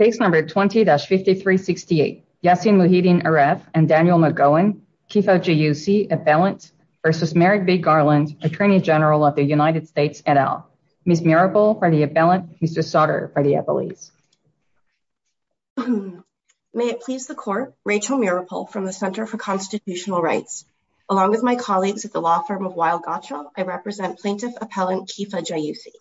20-5368 Yassin Muhyiddin Aref and Daniel McGowan, Kifa Jayousi, Appellant v. Merrick B. Garland, Attorney General of the United States, et al. Ms. Miripol for the Appellant, Mr. Sauter for the Appellees. May it please the Court, Rachel Miripol from the Center for Constitutional Rights. Along with my colleagues at the law firm of Weill-Gottschall, I represent Plaintiff Appellant Kifa Jayousi.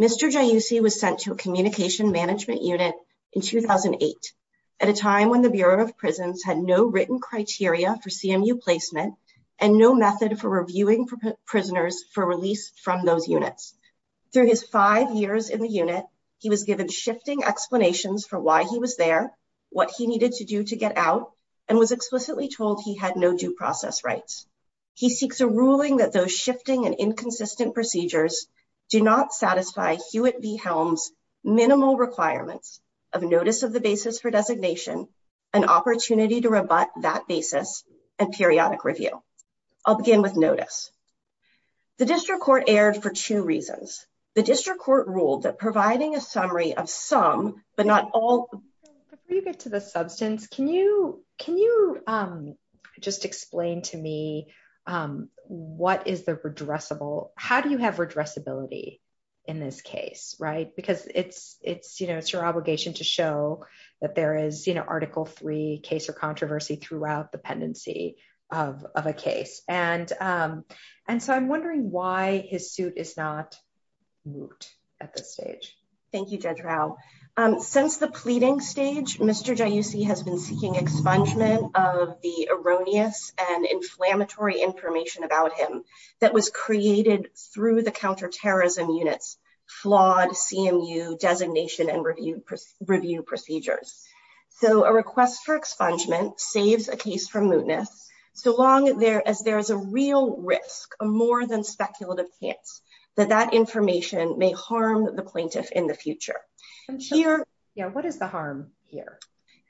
Mr. Jayousi was sent to a communication management unit in 2008 at a time when the Bureau of Prisons had no written criteria for CMU placement and no method for reviewing prisoners for release from those units. Through his five years in the unit, he was given shifting explanations for why he was there, what he needed to do to get out, and was explicitly told he had no due process rights. He seeks a ruling that those shifting and inconsistent procedures do not satisfy Hewitt v. Helms' minimal requirements of notice of the basis for designation, an opportunity to rebut that basis, and periodic review. I'll begin with notice. The District Court erred for two reasons. The District Court ruled that providing a summary of some, but not all... Before you get to the substance, can you just explain to me what is the redressable... How do you have redressability in this case? Right? Because it's your obligation to show that there is Article III case or controversy throughout the pendency of a case. And so I'm wondering why his suit is not moot at this stage. Thank you, Judge Rao. Since the pleading stage, Mr. Jayussi has been seeking expungement of the erroneous and inflammatory information about him that was created through the Counterterrorism Unit's flawed CMU designation and review procedures. So a request for expungement saves a case from mootness, so long as there is a real risk, a more than speculative chance, that that information may harm the plaintiff in the future. What is the harm here?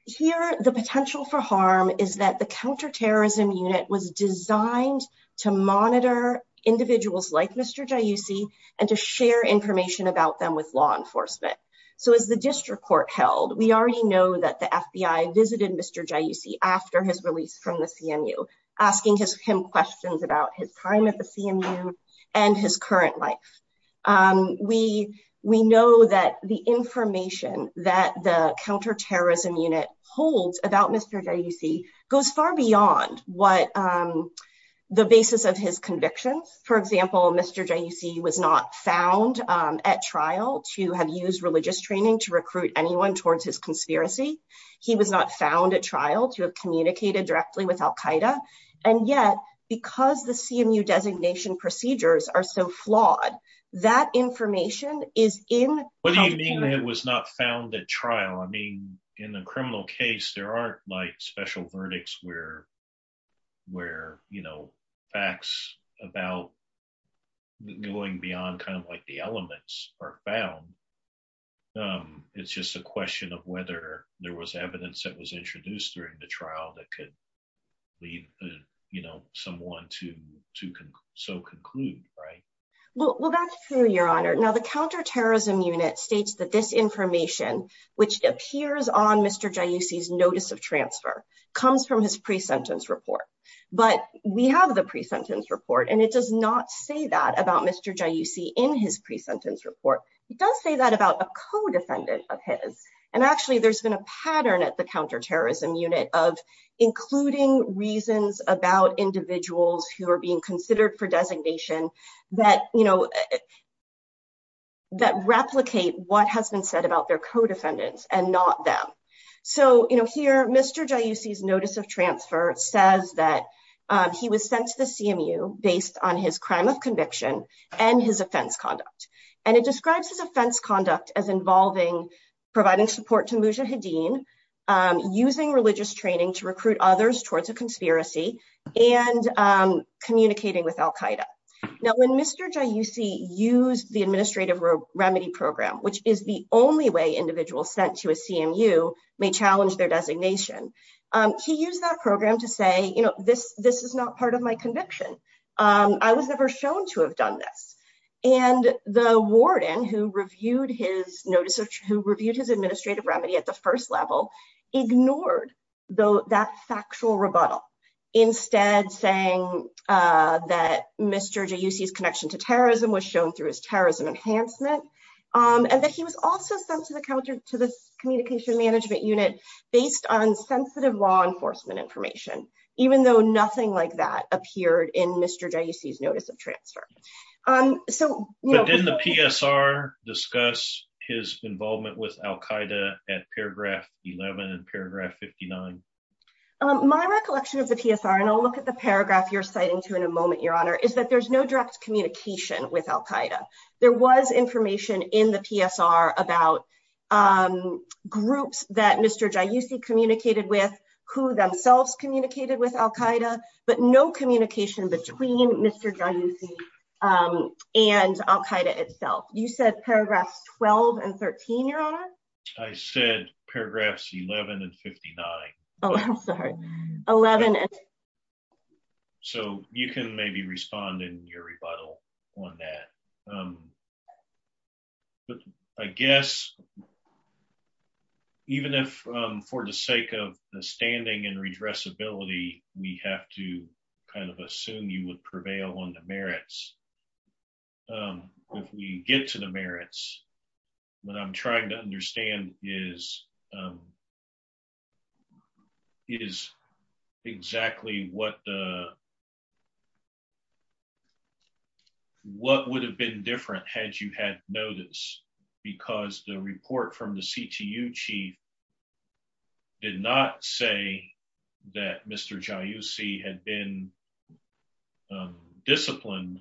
Here, the potential for harm is that the Counterterrorism Unit was designed to monitor individuals like Mr. Jayussi and to share information about them with law enforcement. So as the District Court held, we already know that the FBI visited Mr. Jayussi after his release from the CMU, asking him questions about his time at the CMU and his current life. We know that the information that the Counterterrorism Unit holds about Mr. Jayussi goes far beyond what the basis of his convictions. For example, Mr. Jayussi was not found at trial to have used religious training to recruit anyone towards his conspiracy. He was not found at trial to have communicated directly with al-Qaeda. And yet, because the CMU designation procedures are so flawed, that information is in- What do you mean it was not found at trial? I mean, in a criminal case, there aren't like special verdicts where, you know, facts about going beyond kind of like the elements are found. It's just a question of whether there was evidence that was introduced during the trial that could lead, you know, someone to so conclude, right? Well, that's true, Your Honor. Now, the Counterterrorism Unit states that this information, which appears on Mr. Jayussi's notice of transfer, comes from his pre-sentence report. But we have the pre-sentence report, and it does not say that about Mr. Jayussi in his pre-sentence report. It does say that about a co-defendant of his. And actually, there's been a pattern at the Counterterrorism Unit of including reasons about individuals who are being considered for designation that, you know, that replicate what has been said about their co-defendants and not them. So, you know, here, Mr. Jayussi's notice of transfer says that he was sent to the CMU based on his crime of conviction and his offense conduct. And it describes his offense conduct as involving providing support to Mujahideen, using religious training to recruit others towards a conspiracy, and communicating with Al Qaeda. Now, when Mr. Jayussi used the Administrative Remedy Program, which is the only way individuals sent to a CMU may challenge their designation, he used that program to say, you know, this is not part of my conviction. I was never shown to have done this. And the warden who reviewed his notice, who reviewed his Administrative Remedy at the first level, ignored that factual rebuttal, instead saying that Mr. Jayussi's connection to terrorism was shown through his terrorism enhancement. And that he was also sent to the Communication Management Unit based on sensitive law enforcement information, even though nothing like that appeared in Mr. Jayussi's notice of transfer. So didn't the PSR discuss his involvement with Al Qaeda at paragraph 11 and paragraph 59? My recollection of the PSR, and I'll look at the paragraph you're citing to in a moment, Your Honor, is that there's no direct communication with Al Qaeda. There was information in the PSR about groups that Mr. Jayussi communicated with, who themselves communicated with Al Qaeda, but no communication between Mr. Jayussi and Al Qaeda itself. You said paragraphs 12 and 13, Your Honor? I said paragraphs 11 and 59. Oh, I'm sorry. So you can maybe respond in your rebuttal on that. But I guess, even if for the sake of the standing and redressability, we have to kind of assume you would prevail on the merits, if we get to the merits, what I'm trying to you had notice, because the report from the CTU chief did not say that Mr. Jayussi had been disciplined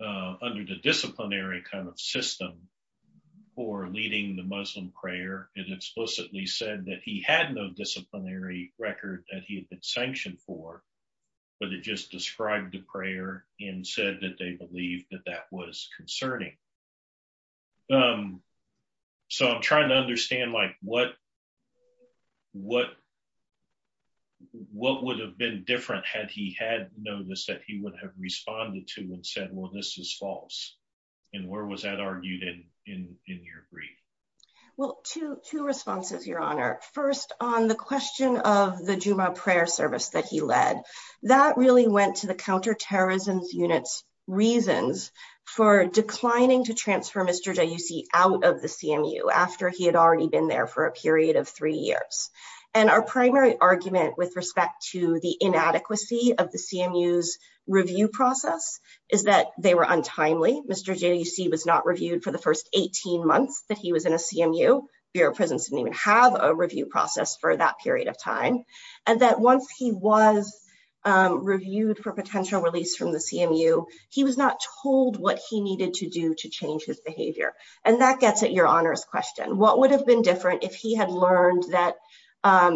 under the disciplinary kind of system for leading the Muslim prayer. It explicitly said that he had no disciplinary record that he had been sanctioned for, but it just described the prayer and said that they believed that that was concerning. So I'm trying to understand what would have been different had he had noticed that he would have responded to and said, well, this is false. And where was that argued in your brief? Well, two responses, Your Honor. First, on the question of the Jumu'ah prayer service that he led. That really went to the Counterterrorism Unit's reasons for declining to transfer Mr. Jayussi out of the CMU after he had already been there for a period of three years. And our primary argument with respect to the inadequacy of the CMU's review process is that they were untimely. Mr. Jayussi was not reviewed for the first 18 months that he was in a CMU. Bureau of Prisons didn't even have a review process for that period of time. And that once he was reviewed for potential release from the CMU, he was not told what he needed to do to change his behavior. And that gets at Your Honor's question. What would have been different if he had learned that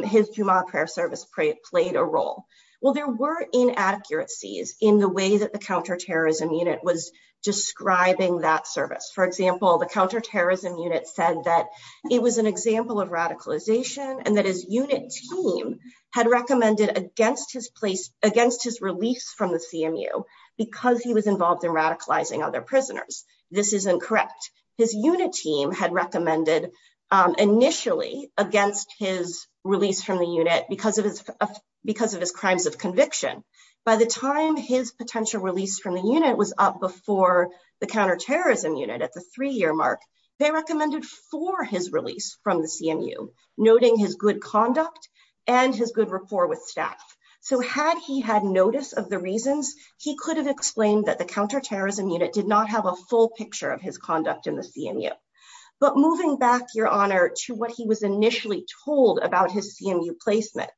his Jumu'ah prayer service played a role? Well, there were inaccuracies in the way that the Counterterrorism Unit was describing that service. For example, the Counterterrorism Unit said that it was an example of radicalization and that his unit team had recommended against his release from the CMU because he was involved in radicalizing other prisoners. This isn't correct. His unit team had recommended initially against his release from the unit because of his crimes of conviction. By the time his potential release from the unit was up before the Counterterrorism Unit at the three-year mark, they recommended for his release from the CMU, noting his good conduct and his good rapport with staff. So had he had notice of the reasons, he could have explained that the Counterterrorism Unit did not have a full picture of his conduct in the CMU. But moving back, Your Honor, to what he was initially told about his CMU placement,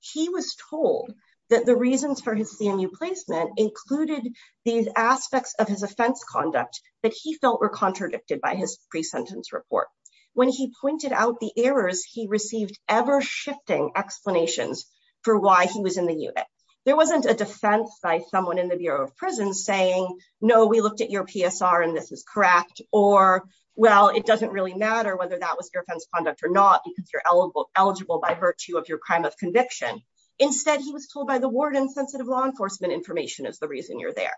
he was told that the reasons for his CMU placement included these aspects of his offense conduct that he felt were contradicted by his pre-sentence report. When he pointed out the errors, he received ever-shifting explanations for why he was in the unit. There wasn't a defense by someone in the Bureau of Prisons saying, no, we looked at your PSR and this is correct, or, well, it doesn't really matter whether that was your offense conduct or not because you're eligible by virtue of your crime of conviction. Instead, he was told by the warden, sensitive law enforcement information is the reason you're there.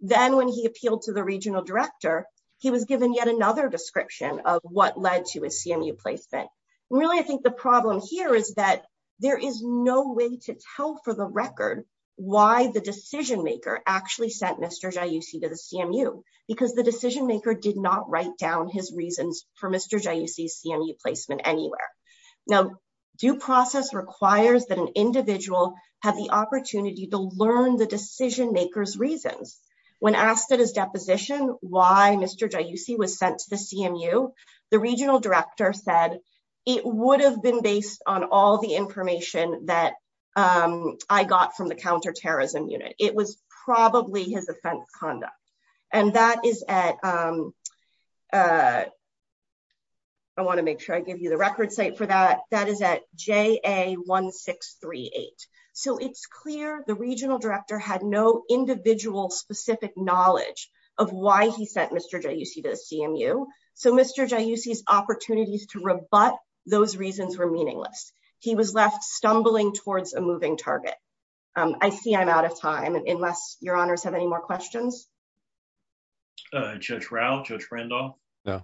Then when he appealed to the regional director, he was given yet another description of what led to his CMU placement. Really, I think the problem here is that there is no way to tell for the record why the decision maker actually sent Mr. Jaiussi to the CMU because the decision maker did not write down his reasons for Mr. Jaiussi's CMU placement anywhere. Now, due process requires that an individual have the opportunity to learn the decision maker's reasons. When asked at his deposition why Mr. Jaiussi was sent to the CMU, the regional director said, it would have been based on all the information that I got from the counterterrorism unit. It was probably his offense conduct. That is at, I want to make sure I give you the record site for that, that is at JA1638. So it's clear the regional director had no individual specific knowledge of why he sent Mr. Jaiussi to the CMU. So Mr. Jaiussi's opportunities to rebut those reasons were meaningless. He was left stumbling towards a moving target. I see I'm out of time. Unless your honors have any more questions? Judge Rao, Judge Randolph? No.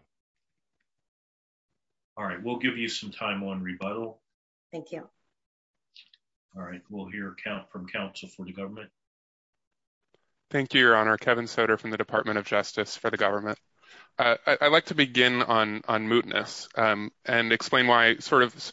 All right, we'll give you some time on rebuttal. Thank you. All right, we'll hear from counsel for the government. Thank you, your honor. Kevin Soter from the Department of Justice for the government. I'd like to begin on mootness and explain why sort of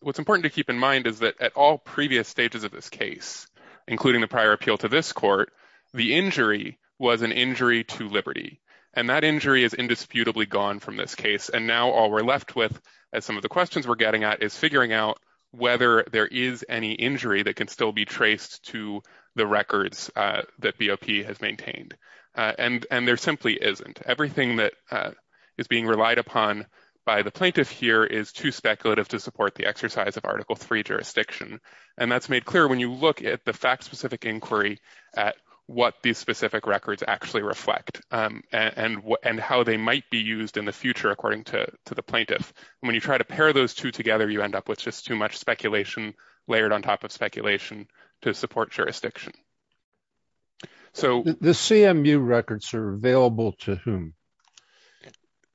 what's important to keep in mind is that at all previous stages of this case, including the prior appeal to this court, the injury was an injury to liberty. And that injury is indisputably gone from this case. And now all we're left with, as some of the questions we're getting at, is figuring out whether there is any injury that can still be traced to the records that BOP has maintained. And there simply isn't. Everything that is being relied upon by the plaintiff here is too speculative to support the exercise of Article III jurisdiction. And that's made clear when you look at the fact-specific inquiry at what these specific records actually reflect and how they might be used in the future, according to the plaintiff. When you try to pair those two together, you end up with just too much speculation layered on top of speculation to support jurisdiction. The CMU records are available to whom?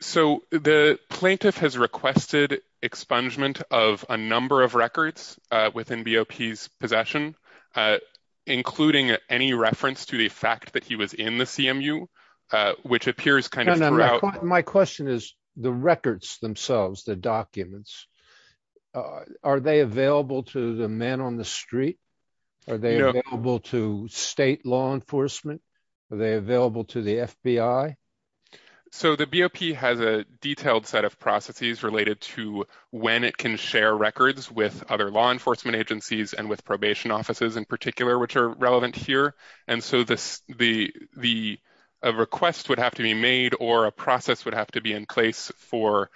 So the plaintiff has requested expungement of a number of records within BOP's possession, including any reference to the fact that he was in the CMU, which appears kind of throughout. My question is the records themselves, the documents, are they available to the men on the street? Are they available to state law enforcement? Are they available to the FBI? So the BOP has a detailed set of processes related to when it can share records with other law enforcement agencies and with probation offices in particular, which are relevant here. And so the request would have to be made or a process would have to be in place for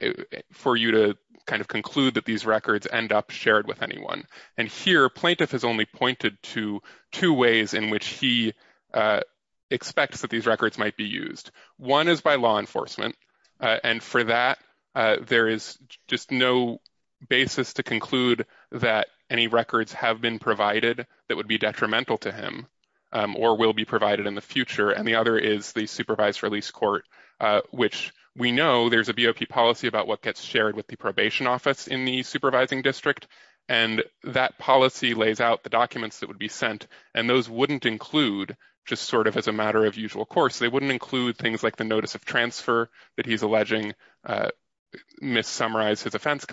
you to kind of conclude that these records end up shared with anyone. And here, plaintiff has only pointed to two ways in which he expects that these records might be used. One is by law enforcement. And for that, there is just no basis to conclude that any records have been provided that would be detrimental to him or will be provided in the future. And the other is the supervised release court, which we know there's a BOP policy about what gets shared with the probation office in the supervising district. And that policy lays out the documents that would be sent. And those wouldn't include, just sort of as a matter of usual course, they wouldn't include things like the notice of transfer that he's alleging mis-summarized his offense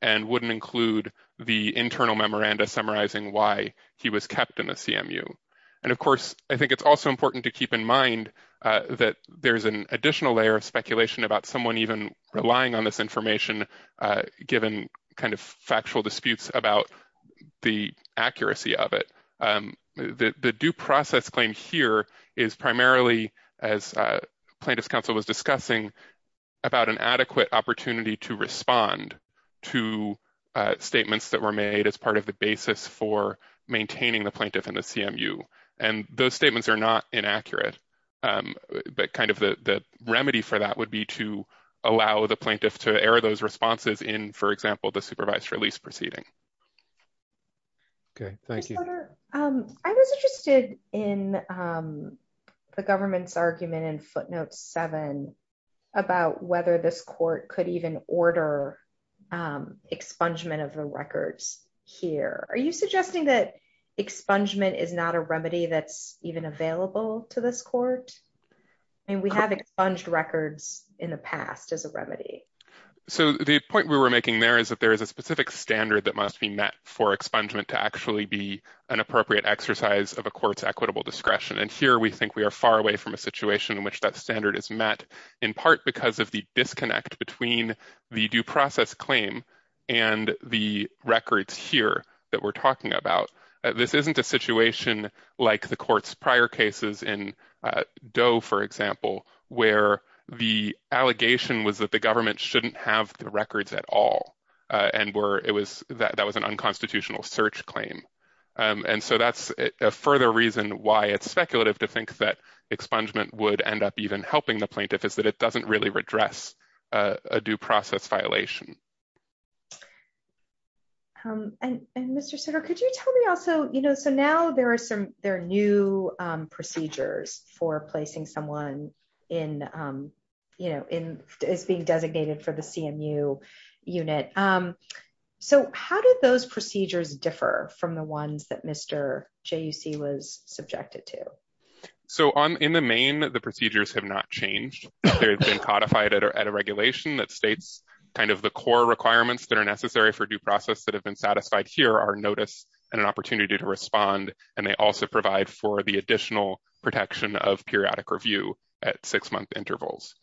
and wouldn't include the internal memoranda summarizing why he was kept in the CMU. And of course, I think it's also important to keep in mind that there's an additional layer of speculation about someone even relying on this information, given kind of factual disputes about the accuracy of it. The due process claim here is primarily, as plaintiff's counsel was discussing, about an adequate opportunity to respond to statements that were made as part of the basis for maintaining the plaintiff in the CMU. And those statements are not inaccurate. But kind of the remedy for that would be to allow the plaintiff to air those responses in, for example, the supervised release proceeding. Okay, thank you. I was interested in the government's argument in footnote seven about whether this court could even order expungement of the records here. Are you suggesting that expungement is not a remedy that's even available to this court? I mean, we have expunged records in the past as a remedy. So the point we were making there is that there is a specific standard that must be met for expungement to actually be an appropriate exercise of a court's equitable discretion. And here we think we are far away from a situation in which that standard is met, in part because of the disconnect between the due process claim and the records here that we're talking about. This isn't a situation like the court's prior cases in Doe, for example, where the allegation was that the government shouldn't have the records at all. And that was an unconstitutional search claim. And so that's a further reason why it's speculative to think that expungement would end up even helping the plaintiff is that it doesn't really redress a due process violation. And Mr. Sutter, could you tell me also, you know, so now there are new procedures for placing someone as being designated for the CMU unit. So how did those procedures differ from the ones that Mr. JUC was subjected to? So in the main, the procedures have not changed. They've been codified at a regulation that states kind of the core requirements that are necessary for due process that have been satisfied here are notice and an opportunity to respond. And they also provide for the additional protection of periodic review at six-month intervals.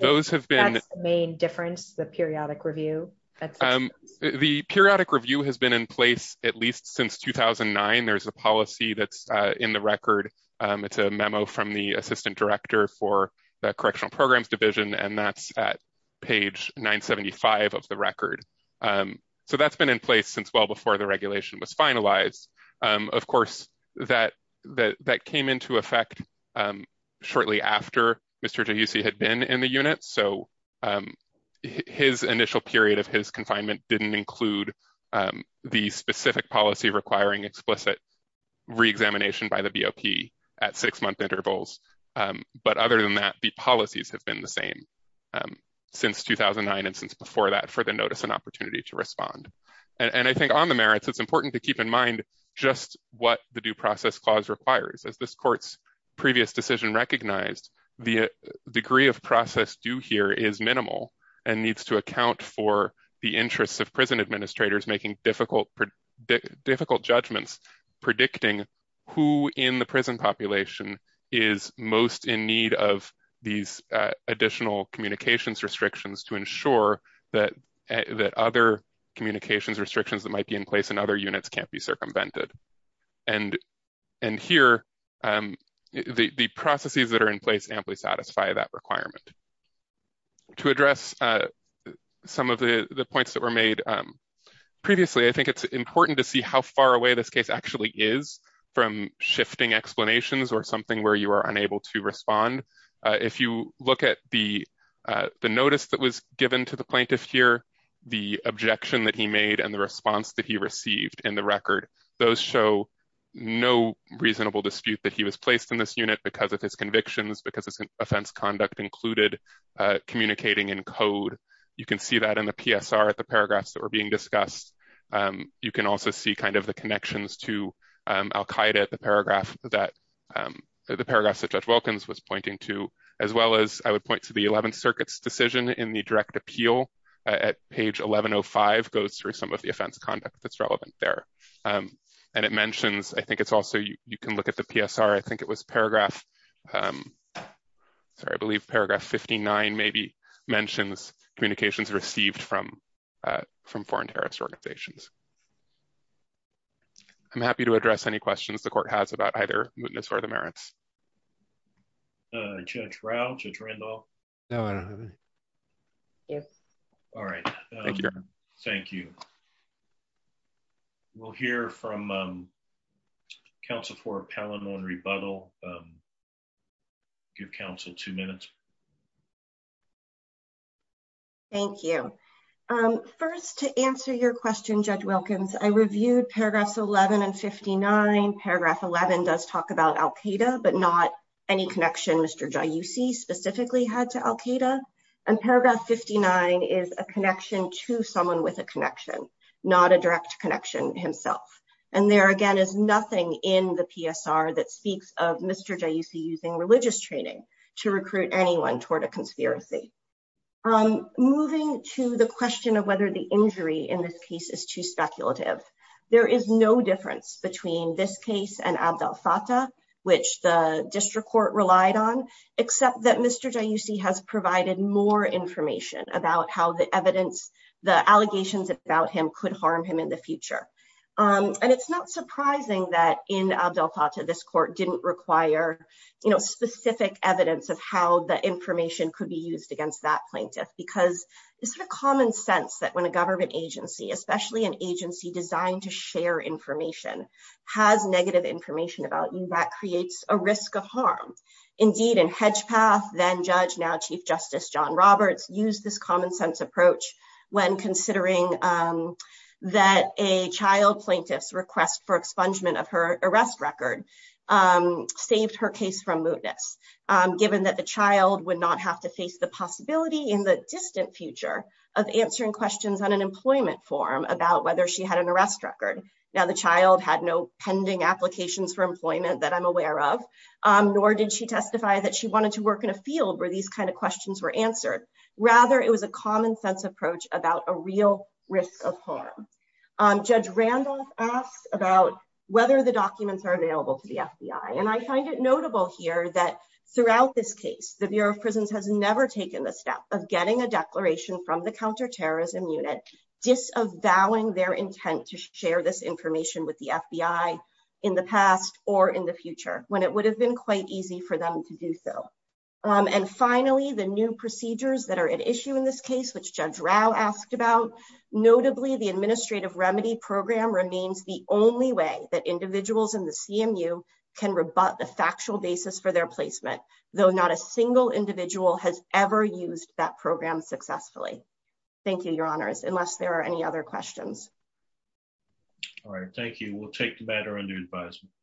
Those have been main difference, the periodic review. The periodic review has been in place at least since 2009. There's a policy that's in the record. It's a memo from the assistant director for the Correctional Programs Division. And that's at page 975 of the record. So that's been in place since well before the regulation was finalized. Of course, that came into effect shortly after Mr. JUC had been in the unit. So his initial period of his confinement didn't include the specific policy requiring explicit re-examination by the BOP at six-month intervals. But other than that, the policies have been the same since 2009 and since before that for the notice and opportunity to respond. And I think on the merits, it's important to keep in mind just what the due process clause requires. As this court's previous decision recognized, the degree of process due here is minimal and needs to account for the interests of prison administrators making difficult judgments predicting who in the prison population is most in need of these additional communications restrictions to ensure that other communications restrictions that might be in place in other units can't be circumvented. And here, the processes that are in place amply satisfy that requirement. To address some of the points that were made previously, I think it's important to see how far away this case actually is from shifting explanations or something where you are unable to respond. If you look at the notice that was given to the plaintiff here, the objection that he made and the response that he received in the record, those show no reasonable dispute that he was placed in this unit because of his convictions, because his offense conduct included communicating in code. You can see that in the PSR at the paragraphs that were being discussed. You can also see kind of the connections to al-Qaeda at the paragraphs that Judge Wilkins was pointing to, as well as I would point to the 11th Circuit's decision in the direct appeal at page 1105 goes through some of the offense conduct that's relevant there. And it mentions, I think it's also, you can look at the PSR, I think it was paragraph, sorry, I believe paragraph 59 maybe mentions communications received from foreign terrorist organizations. I'm happy to address any questions the court has about either mootness or the merits. Judge Rao, Judge Randolph? No, I don't have any. Yes. All right. Thank you. We'll hear from counsel for a panel on rebuttal. Give counsel two minutes. Thank you. First, to answer your question, Judge Wilkins, I reviewed paragraphs 11 and 59. Paragraph 11 does talk about al-Qaeda, but not any connection Mr. Jayousi specifically had to al-Qaeda. And paragraph 59 is a connection to someone with a connection, not a direct connection himself. And there again is nothing in the PSR that speaks of Mr. Jayousi using religious training to recruit anyone toward a conspiracy. Moving to the question of whether the injury in this case is too speculative. There is no difference between this case and Abdel Fattah, which the district court relied on, except that Mr. Jayousi has provided more information about how the evidence, the allegations about him could harm him in the future. And it's not surprising that in Abdel Fattah, this court didn't require specific evidence of how the information could be used against that plaintiff. Because it's sort of common sense that when a government agency, especially an agency designed to share information, has negative information about you, that creates a risk of harm. Indeed, in Hedgepath, then Judge, now Chief Justice John Roberts used this common sense approach when considering that a child plaintiff's request for expungement of her arrest record saved her case from mootness, given that the child would not have to face the possibility in the distant future of answering questions on an employment form about whether she had an arrest record. Now, the child had no pending applications for employment that I'm aware of, nor did she testify that she wanted to work in a field where these kind of questions were answered. Rather, it was a common sense approach about a real risk of harm. Judge Randolph asked about whether the documents are available to the FBI. And I find it notable here that throughout this case, the Bureau of Prisons has never taken the step of getting a declaration from the Counterterrorism Unit disavowing their intent to share this information with the FBI in the past or in the future, when it would have been quite easy for them to do so. And finally, the new procedures that are at issue in this case, which Judge Rao asked about, notably, the Administrative Remedy Program remains the only way that individuals in the CMU can rebut the factual basis for their placement, though not a single individual has ever used that program successfully. Thank you, Your Honors, unless there are any other questions. All right. Thank you. We'll take the matter under advisement.